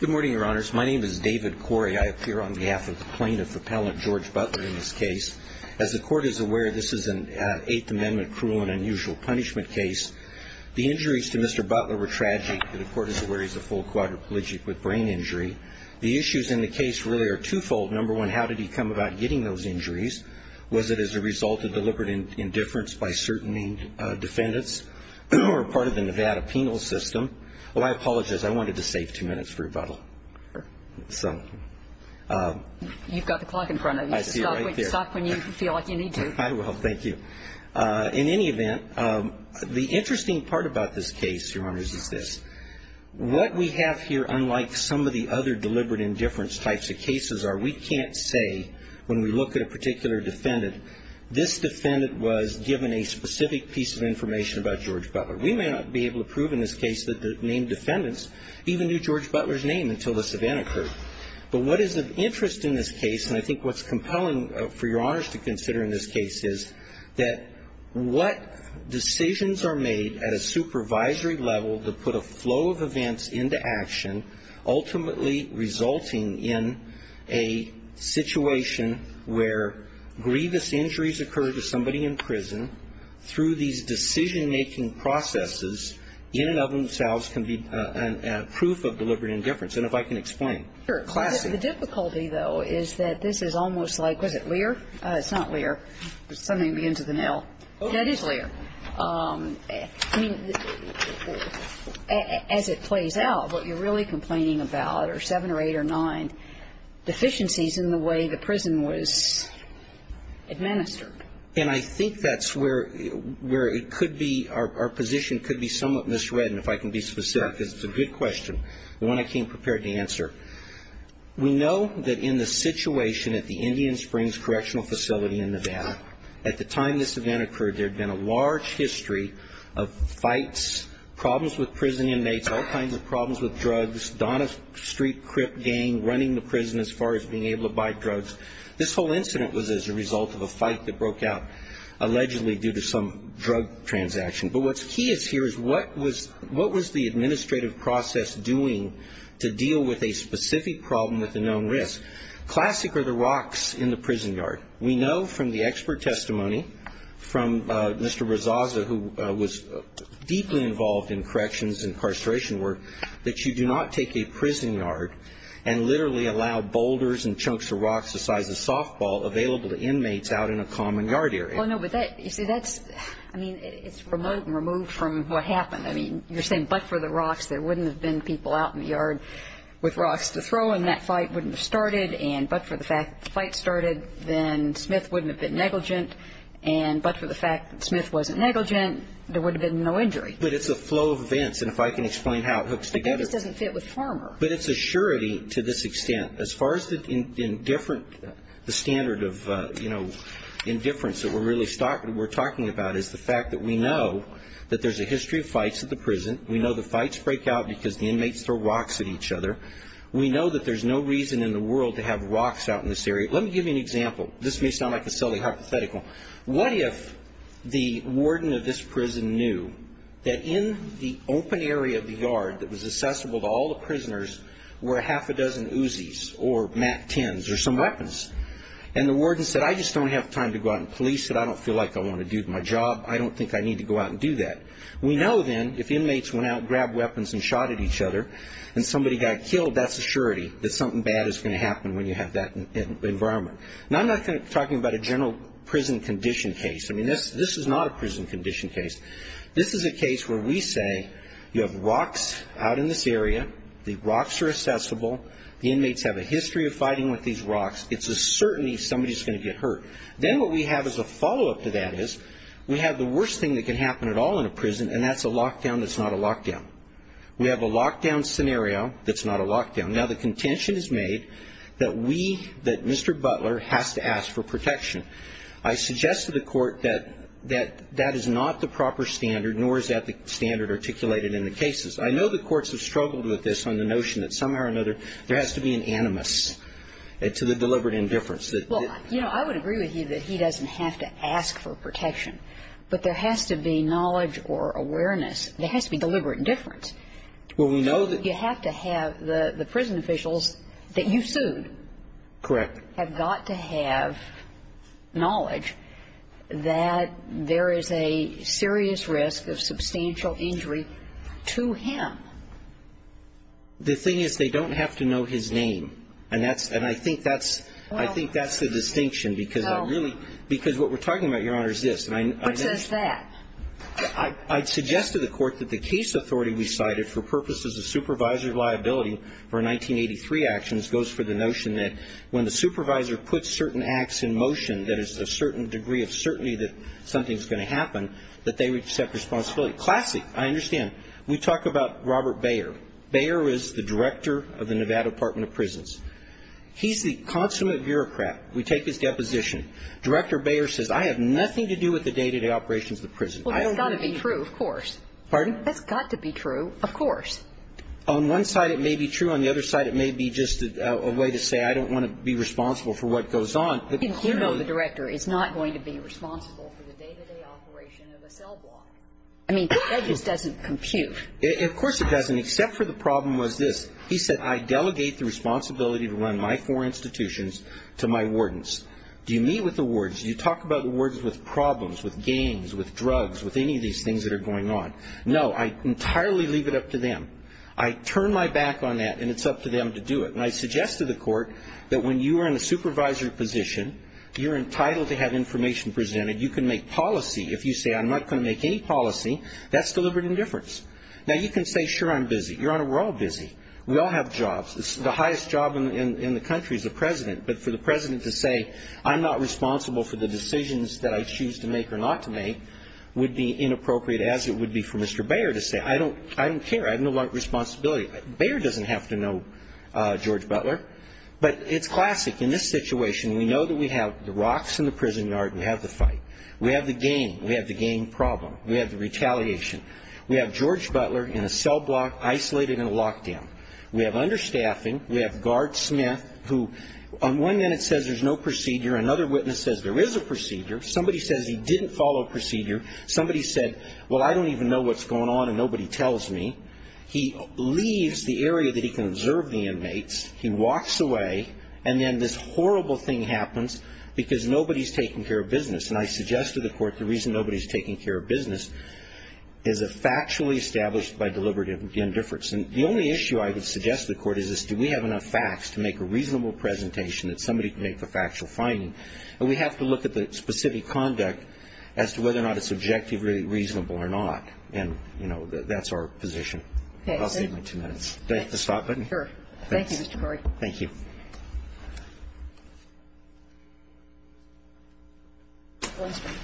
Good morning, Your Honors. My name is David Corey. I appear on behalf of the plaintiff, Appellant George Butler, in this case. As the Court is aware, this is an Eighth Amendment cruel and unusual punishment case. The injuries to Mr. Butler were tragic. The Court is aware he's a full quadriplegic with brain injury. The issues in the case really are twofold. Number one, how did he come about getting those injuries? Was it as a result of deliberate indifference by certain defendants or part of the Nevada penal system? Well, I apologize. I wanted to save two minutes for rebuttal. So you've got the clock in front of you. Stop when you feel like you need to. I will. Thank you. In any event, the interesting part about this case, Your Honors, is this. What we have here, unlike some of the other deliberate indifference types of cases, are we can't say when we look at a particular defendant, this defendant was given a specific piece of information about George Butler. We may not be able to prove in this case that the named defendants even knew George Butler's name until this event occurred. But what is of interest in this case, and I think what's compelling for Your Honors to consider in this case, is that what decisions are made at a supervisory level to put a flow of events into action, ultimately resulting in a situation where grievous injuries occur to somebody in prison through these decision-making processes in and of themselves can be proof of deliberate indifference. And if I can explain. Sure. Classy. The difficulty, though, is that this is almost like, was it Lear? It's not Lear. Something begins with an L. That is Lear. I mean, as it plays out, what you're really complaining about are seven or eight or nine deficiencies in the way the prison was administered. And I think that's where it could be, our position could be somewhat misread, and if I can be specific, because it's a good question, the one I came prepared to answer. We know that in the situation at the Indian Springs Correctional Facility in Nevada, at the time this event occurred, there had been a large history of fights, problems with prison inmates, all kinds of problems with drugs, Donna Street Crip gang running the prison as far as being able to buy drugs. This whole incident was as a result of a fight that broke out allegedly due to some drug transaction. But what's key is here is what was the administrative process doing to deal with a specific problem with a known risk? Classic are the rocks in the prison yard. We know from the expert testimony from Mr. Rezaza, who was deeply involved in corrections and incarceration work, that you do not take a prison yard and literally allow boulders and chunks of rocks the size of softball available to inmates out in a common yard area. Well, no, but that, you see, that's, I mean, it's remote and removed from what happened. I mean, you're saying but for the rocks, there wouldn't have been people out in the yard with rocks to throw, and that fight wouldn't have started, and but for the fact that the fight started, then Smith wouldn't have been negligent, and but for the fact that Smith wasn't negligent, there would have been no injury. But it's a flow of events, and if I can explain how it hooks together. But that just doesn't fit with Farmer. But it's a surety to this extent. As far as the indifference, the standard of, you know, indifference that we're really talking about is the fact that we know that there's a history of fights at the prison. We know the fights break out because the inmates throw rocks at each other. We know that there's no reason in the world to have rocks out in this area. Let me give you an example. This may sound like a silly hypothetical. What if the warden of this prison knew that in the open area of the yard that was accessible to all the prisoners were a half a dozen Uzis or MAC-10s or some weapons? And the warden said, I just don't have time to go out and police it. I don't feel like I want to do my job. I don't think I need to go out and do that. We know, then, if inmates went out and grabbed weapons and shot at each other, and somebody got killed, that's a surety that something bad is going to happen when you have that environment. Now, I'm not talking about a general prison condition case. I mean, this is not a prison condition case. This is a case where we say you have rocks out in this area. The rocks are accessible. The inmates have a history of fighting with these rocks. It's a certainty somebody's going to get hurt. Then what we have as a follow-up to that is we have the worst thing that can happen at all in a prison, and that's a lockdown that's not a lockdown. We have a lockdown scenario that's not a lockdown. Now, the contention is made that we, that Mr. Butler has to ask for protection. I suggest to the Court that that is not the proper standard, nor is that the standard articulated in the cases. I know the courts have struggled with this on the notion that somehow or another there has to be an animus to the deliberate indifference. Well, you know, I would agree with you that he doesn't have to ask for protection, but there has to be knowledge or awareness. There has to be deliberate indifference. Well, we know that you have to have the prison officials that you sued. Correct. You have got to have knowledge that there is a serious risk of substantial injury to him. The thing is they don't have to know his name, and that's – and I think that's the distinction because I really – because what we're talking about, Your Honor, is this. What says that? I suggest to the Court that the case authority we cited for purposes of supervisor liability for 1983 actions goes for the notion that when the supervisor puts certain acts in motion that is a certain degree of certainty that something's going to happen, that they accept responsibility. Classic. I understand. We talk about Robert Bayer. Bayer is the director of the Nevada Department of Prisons. He's the consummate bureaucrat. We take his deposition. Director Bayer says, I have nothing to do with the day-to-day operations of the prison. Well, that's got to be true, of course. Pardon? That's got to be true, of course. On one side, it may be true. On the other side, it may be just a way to say I don't want to be responsible for what goes on. You know the director is not going to be responsible for the day-to-day operation of a cell block. I mean, that just doesn't compute. Of course it doesn't, except for the problem was this. He said, I delegate the responsibility to run my four institutions to my wardens. Do you meet with the wards? Do you talk about the wards with problems, with gangs, with drugs, with any of these things that are going on? No. I entirely leave it up to them. I turn my back on that, and it's up to them to do it. And I suggest to the court that when you are in a supervisory position, you're entitled to have information presented. You can make policy. If you say, I'm not going to make any policy, that's deliberate indifference. Now, you can say, sure, I'm busy. Your Honor, we're all busy. We all have jobs. The highest job in the country is the president. But for the president to say, I'm not responsible for the decisions that I choose to make or not to make, would be inappropriate, as it would be for Mr. Bayer to say, I don't care. I have no responsibility. Bayer doesn't have to know George Butler. But it's classic. In this situation, we know that we have the rocks in the prison yard. We have the fight. We have the gang. We have the gang problem. We have the retaliation. We have George Butler in a cell block, isolated and locked in. We have understaffing. We have Guard Smith, who on one minute says there's no procedure. Another witness says there is a procedure. Somebody says he didn't follow a procedure. Somebody said, well, I don't even know what's going on, and nobody tells me. He leaves the area that he can observe the inmates. He walks away. And then this horrible thing happens because nobody's taking care of business. And I suggest to the Court the reason nobody's taking care of business is a factually established by deliberate indifference. And the only issue I would suggest to the Court is, is do we have enough facts to make a reasonable presentation that somebody can make the factual finding? And we have to look at the specific conduct as to whether or not it's objectively reasonable or not. And, you know, that's our position. Okay. I'll save my two minutes. Do I have the stop button? Sure. Thank you, Mr. Corey. Thank you. Mr. Lindstrom.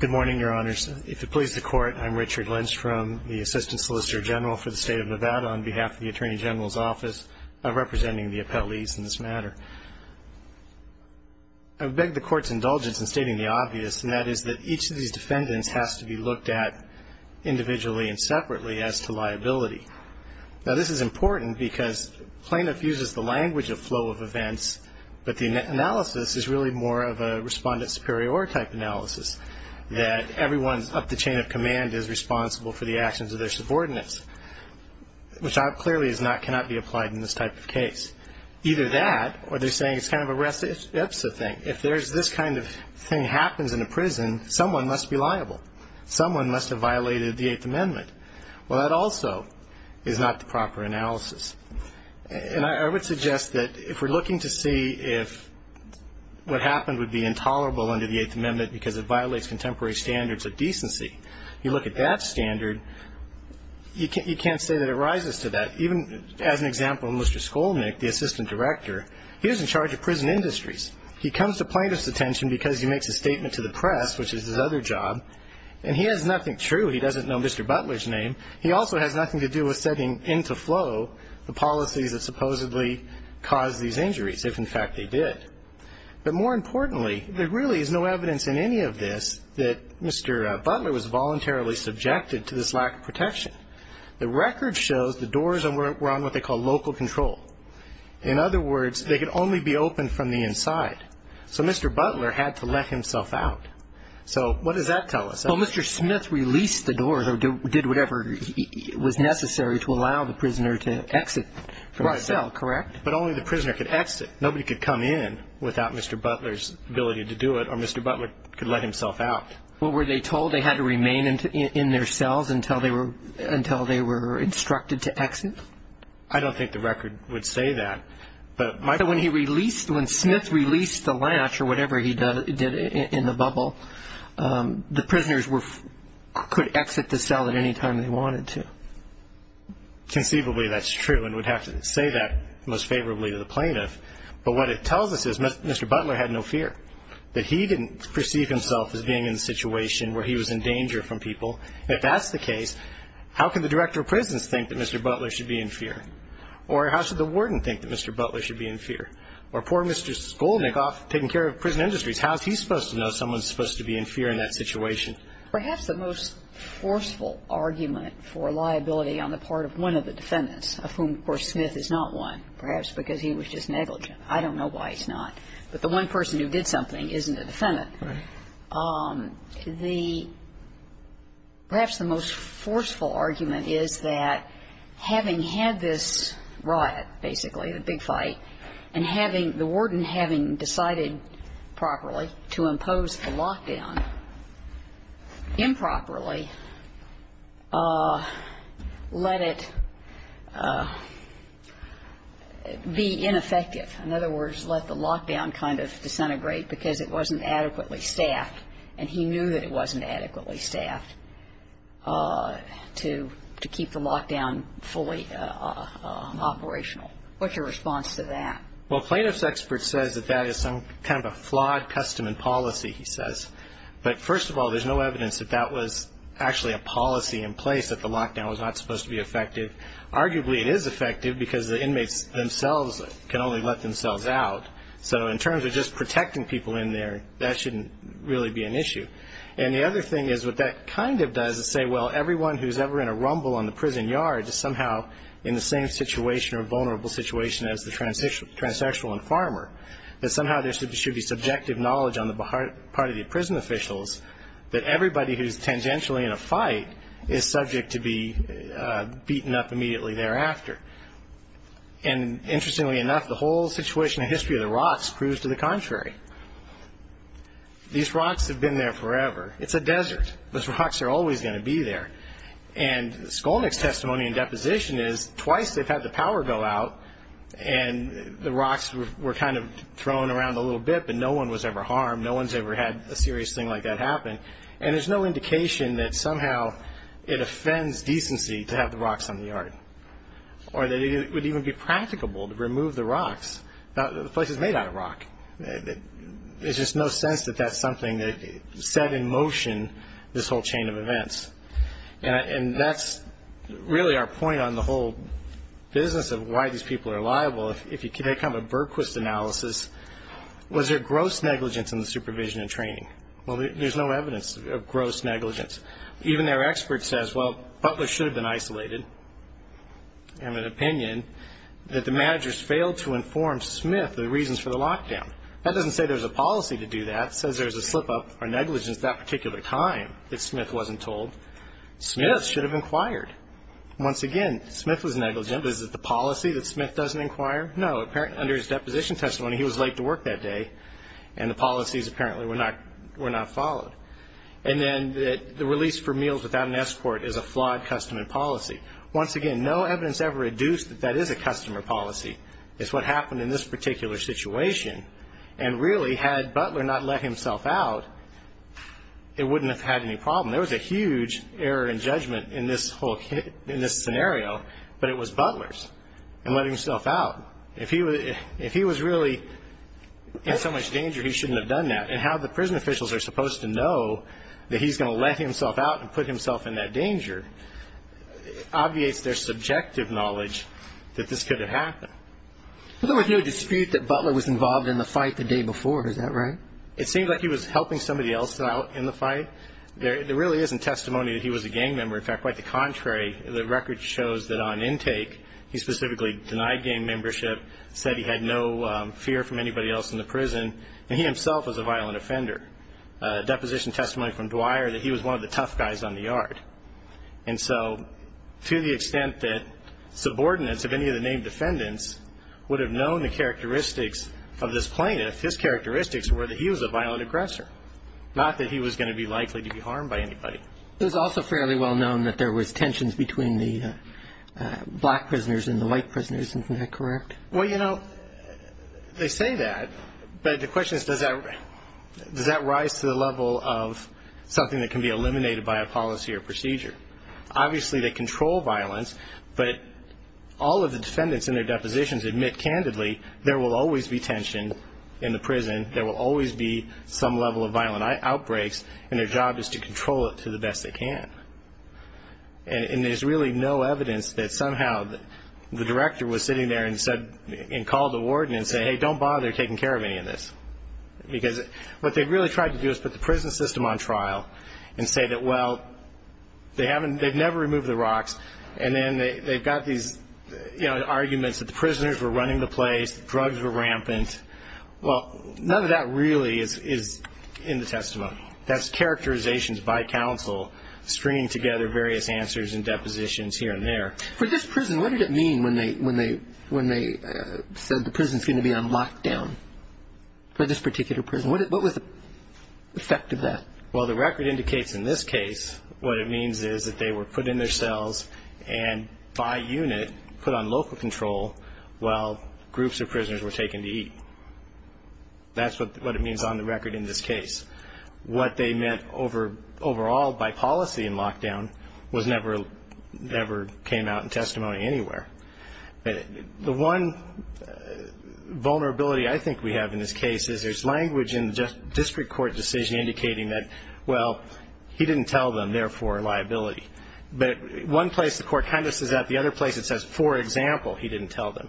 Good morning, Your Honors. If it pleases the Court, I'm Richard Lindstrom, the Assistant Solicitor General for the State of Nevada on behalf of the Attorney General's Office, representing the appellees in this matter. I would beg the Court's indulgence in stating the obvious, and that is that each of these defendants has to be looked at individually and separately as to liability. Now, this is important because plaintiff uses the language of flow of events, but the analysis is really more of a respondent superior type analysis, that everyone up the chain of command is responsible for the actions of their subordinates, which clearly cannot be applied in this type of case. Either that, or they're saying it's kind of a rest ipsa thing. If this kind of thing happens in a prison, someone must be liable. Someone must have violated the Eighth Amendment. Well, that also is not the proper analysis. And I would suggest that if we're looking to see if what happened would be intolerable under the standard, you can't say that it rises to that. Even as an example, Mr. Skolnick, the Assistant Director, he was in charge of prison industries. He comes to plaintiff's attention because he makes a statement to the press, which is his other job, and he has nothing true. He doesn't know Mr. Butler's name. He also has nothing to do with setting into flow the policies that supposedly caused these injuries, if in fact they did. But more importantly, there really is no evidence in any of this that Mr. Butler was voluntarily subjected to this lack of protection. The record shows the doors were on what they call local control. In other words, they could only be opened from the inside. So Mr. Butler had to let himself out. So what does that tell us? Well, Mr. Smith released the doors or did whatever was necessary to allow the prisoner to exit from the cell, correct? But only the prisoner could exit. Nobody could come in without Mr. Butler's ability to do it, or Mr. Butler could let himself out. Well, were they told they had to remain in their cells until they were instructed to exit? I don't think the record would say that. But when he released, when Smith released the latch or whatever he did in the bubble, the prisoners could exit the cell at any time they wanted to. Conceivably, that's true, and we'd have to say that most favorably to the plaintiff. But what it tells us is Mr. Butler had no fear, that he didn't perceive himself as being in a situation where he was in danger from people. If that's the case, how can the director of prisons think that Mr. Butler should be in fear? Or how should the warden think that Mr. Butler should be in fear? Or poor Mr. Skolnickoff, taking care of prison industries, how is he supposed to know someone's supposed to be in fear in that situation? Perhaps the most forceful argument for liability on the part of one of the defendants, of whom, of course, Smith is not one, perhaps because he was just negligent. I don't know why he's not. But the one person who did something isn't a defendant. Right. The perhaps the most forceful argument is that having had this riot, basically, the big fight, and having the warden having decided properly to impose the lockdown improperly, let it be ineffective. In other words, let the lockdown kind of disintegrate because it wasn't adequately staffed. And he knew that it wasn't adequately staffed to keep the lockdown fully operational. What's your response to that? Well, plaintiff's expert says that that is some kind of a flawed custom and policy, he says. But, first of all, there's no evidence that that was actually a policy in place, that the lockdown was not supposed to be effective. Arguably, it is effective because the inmates themselves can only let themselves out. So in terms of just protecting people in there, that shouldn't really be an issue. And the other thing is what that kind of does is say, well, everyone who's ever in a rumble on the prison yard is somehow in the same situation or vulnerable situation as the transsexual and farmer, that somehow there should be subjective knowledge on the part of the prison officials that everybody who's tangentially in a fight is subject to be beaten up immediately thereafter. And, interestingly enough, the whole situation and history of the rocks proves to the contrary. These rocks have been there forever. It's a desert. Those rocks are always going to be there. And Skolnick's testimony in deposition is twice they've had the power go out and the rocks were kind of thrown around a little bit, but no one was ever harmed. No one's ever had a serious thing like that happen. And there's no indication that somehow it offends decency to have the rocks on the yard or that it would even be practicable to remove the rocks. The place is made out of rock. There's just no sense that that's something that set in motion this whole chain of events. And that's really our point on the whole business of why these people are liable. If you take kind of a Bergquist analysis, was there gross negligence in the supervision and training? Well, there's no evidence of gross negligence. Even their expert says, well, Butler should have been isolated. I have an opinion that the managers failed to inform Smith of the reasons for the lockdown. That doesn't say there's a policy to do that. It says there's a slip-up or negligence that particular time that Smith wasn't told. Smith should have inquired. Once again, Smith was negligent, but is it the policy that Smith doesn't inquire? No. Under his deposition testimony, he was late to work that day, and the policies apparently were not followed. And then the release for meals without an escort is a flawed customer policy. Once again, no evidence ever reduced that that is a customer policy. It's what happened in this particular situation. And really, had Butler not let himself out, it wouldn't have had any problem. There was a huge error in judgment in this scenario, but it was Butler's in letting himself out. If he was really in so much danger, he shouldn't have done that. And how the prison officials are supposed to know that he's going to let himself out and put himself in that danger obviates their subjective knowledge that this could have happened. But there was no dispute that Butler was involved in the fight the day before. Is that right? It seemed like he was helping somebody else out in the fight. There really isn't testimony that he was a gang member. In fact, quite the contrary. The record shows that on intake, he specifically denied gang membership, said he had no fear from anybody else in the prison, and he himself was a violent offender. Deposition testimony from Dwyer that he was one of the tough guys on the yard. And so to the extent that subordinates of any of the named defendants would have known the characteristics of this plaintiff, his characteristics were that he was a violent aggressor, not that he was going to be likely to be harmed by anybody. It was also fairly well known that there was tensions between the black prisoners and the white prisoners. Isn't that correct? Well, you know, they say that, but the question is, does that rise to the level of something that can be eliminated by a policy or procedure? Obviously they control violence, but all of the defendants in their depositions admit candidly there will always be tension in the prison, there will always be some level of violent outbreaks, and their job is to control it to the best they can. And there's really no evidence that somehow the director was sitting there and called the warden and said, hey, don't bother taking care of any of this. Because what they really tried to do is put the prison system on trial and say that, well, they've never removed the rocks, and then they've got these arguments that the prisoners were running the place, drugs were rampant. Well, none of that really is in the testimony. That's characterizations by counsel stringing together various answers and depositions here and there. For this prison, what did it mean when they said the prison is going to be on lockdown, for this particular prison? What was the effect of that? Well, the record indicates in this case what it means is that they were put in their cells and by unit put on local control while groups of prisoners were taken to eat. That's what it means on the record in this case. What they meant overall by policy in lockdown never came out in testimony anywhere. The one vulnerability I think we have in this case is there's language in the district court decision indicating that, well, he didn't tell them, therefore liability. But one place the court kind of says that, the other place it says, for example, he didn't tell them.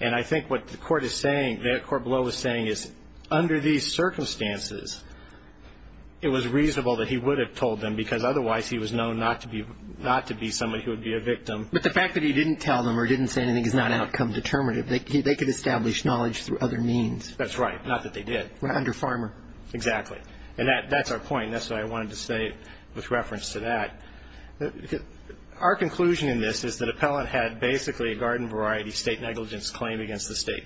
And I think what the court is saying, what the court below is saying is, under these circumstances it was reasonable that he would have told them because otherwise he was known not to be somebody who would be a victim. But the fact that he didn't tell them or didn't say anything is not outcome determinative. They could establish knowledge through other means. That's right. Not that they did. Under farmer. Exactly. And that's our point. That's what I wanted to say with reference to that. Our conclusion in this is that appellant had basically a garden variety state negligence claim against the state.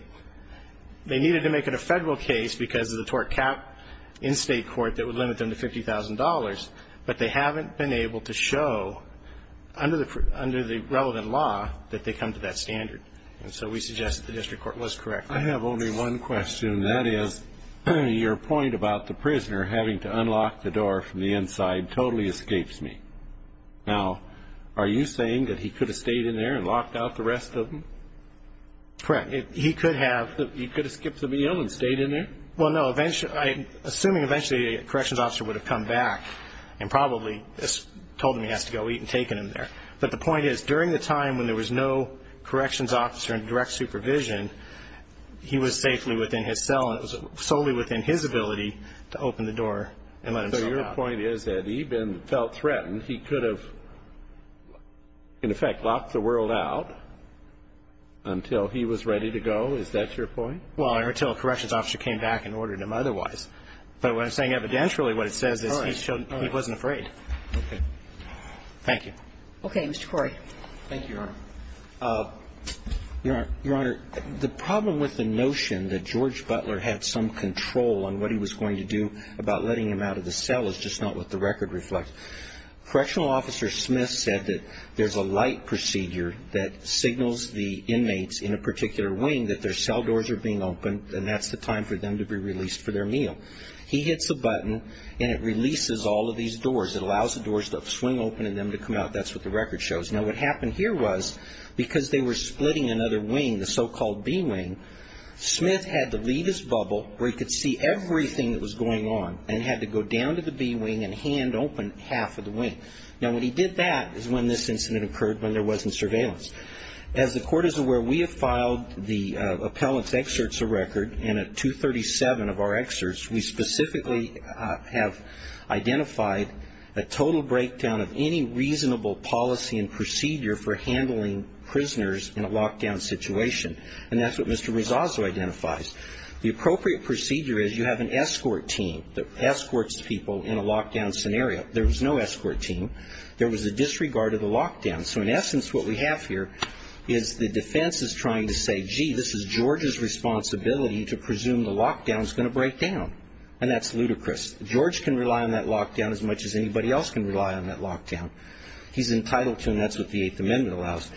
They needed to make it a federal case because of the tort cap in state court that would limit them to $50,000. But they haven't been able to show under the relevant law that they come to that standard. And so we suggest that the district court was correct. I have only one question. And that is your point about the prisoner having to unlock the door from the inside totally escapes me. Now, are you saying that he could have stayed in there and locked out the rest of them? Correct. He could have skipped the meal and stayed in there? Well, no. Assuming eventually a corrections officer would have come back and probably told him he has to go eat and taken him there. But the point is, during the time when there was no corrections officer in direct supervision, he was safely within his cell and it was solely within his ability to open the door and let him come out. So your point is that he felt threatened. He could have, in effect, locked the world out until he was ready to go. Is that your point? Well, until a corrections officer came back and ordered him otherwise. But what I'm saying evidentially, what it says is he wasn't afraid. Okay. Thank you. Okay. Mr. Corey. Thank you, Your Honor. Your Honor, the problem with the notion that George Butler had some control on what he was going to do about letting him out of the cell is just not what the record reflects. Correctional officer Smith said that there's a light procedure that signals the inmates in a particular wing that their cell doors are being opened and that's the time for them to be released for their meal. He hits a button and it releases all of these doors. It allows the doors to swing open and them to come out. That's what the record shows. Now, what happened here was because they were splitting another wing, the so-called B wing, Smith had to leave his bubble where he could see everything that was going on and had to go down to the B wing and hand open half of the wing. Now, when he did that is when this incident occurred when there wasn't surveillance. As the Court is aware, we have filed the appellant's excerpts of record, and at 237 of our excerpts, we specifically have identified a total breakdown of any reasonable policy and procedure for handling prisoners in a lockdown situation. And that's what Mr. Rosazzo identifies. The appropriate procedure is you have an escort team that escorts people in a lockdown scenario. There was no escort team. There was a disregard of the lockdown. So in essence, what we have here is the defense is trying to say, gee, this is George's responsibility to presume the lockdown is going to break down. And that's ludicrous. George can rely on that lockdown as much as anybody else can rely on that lockdown. He's entitled to, and that's what the Eighth Amendment allows.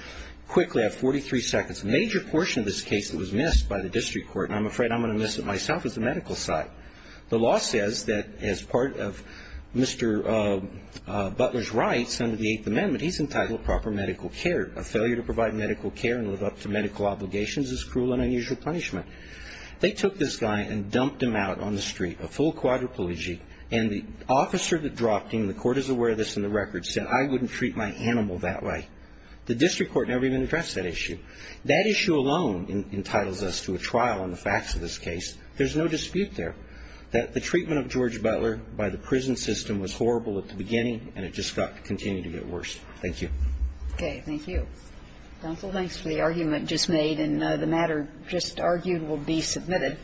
Quickly, I have 43 seconds. A major portion of this case that was missed by the district court, and I'm afraid I'm going to miss it myself, is the medical side. The law says that as part of Mr. Butler's rights under the Eighth Amendment, he's entitled to proper medical care. A failure to provide medical care and live up to medical obligations is cruel and unusual punishment. They took this guy and dumped him out on the street, a full quadriplegic, and the officer that dropped him, the court is aware of this in the record, said I wouldn't treat my animal that way. The district court never even addressed that issue. That issue alone entitles us to a trial on the facts of this case. There's no dispute there that the treatment of George Butler by the prison system was horrible at the beginning, and it just got to continue to get worse. Thank you. Okay. Thank you. Counsel, thanks for the argument just made, and the matter just argued will be submitted.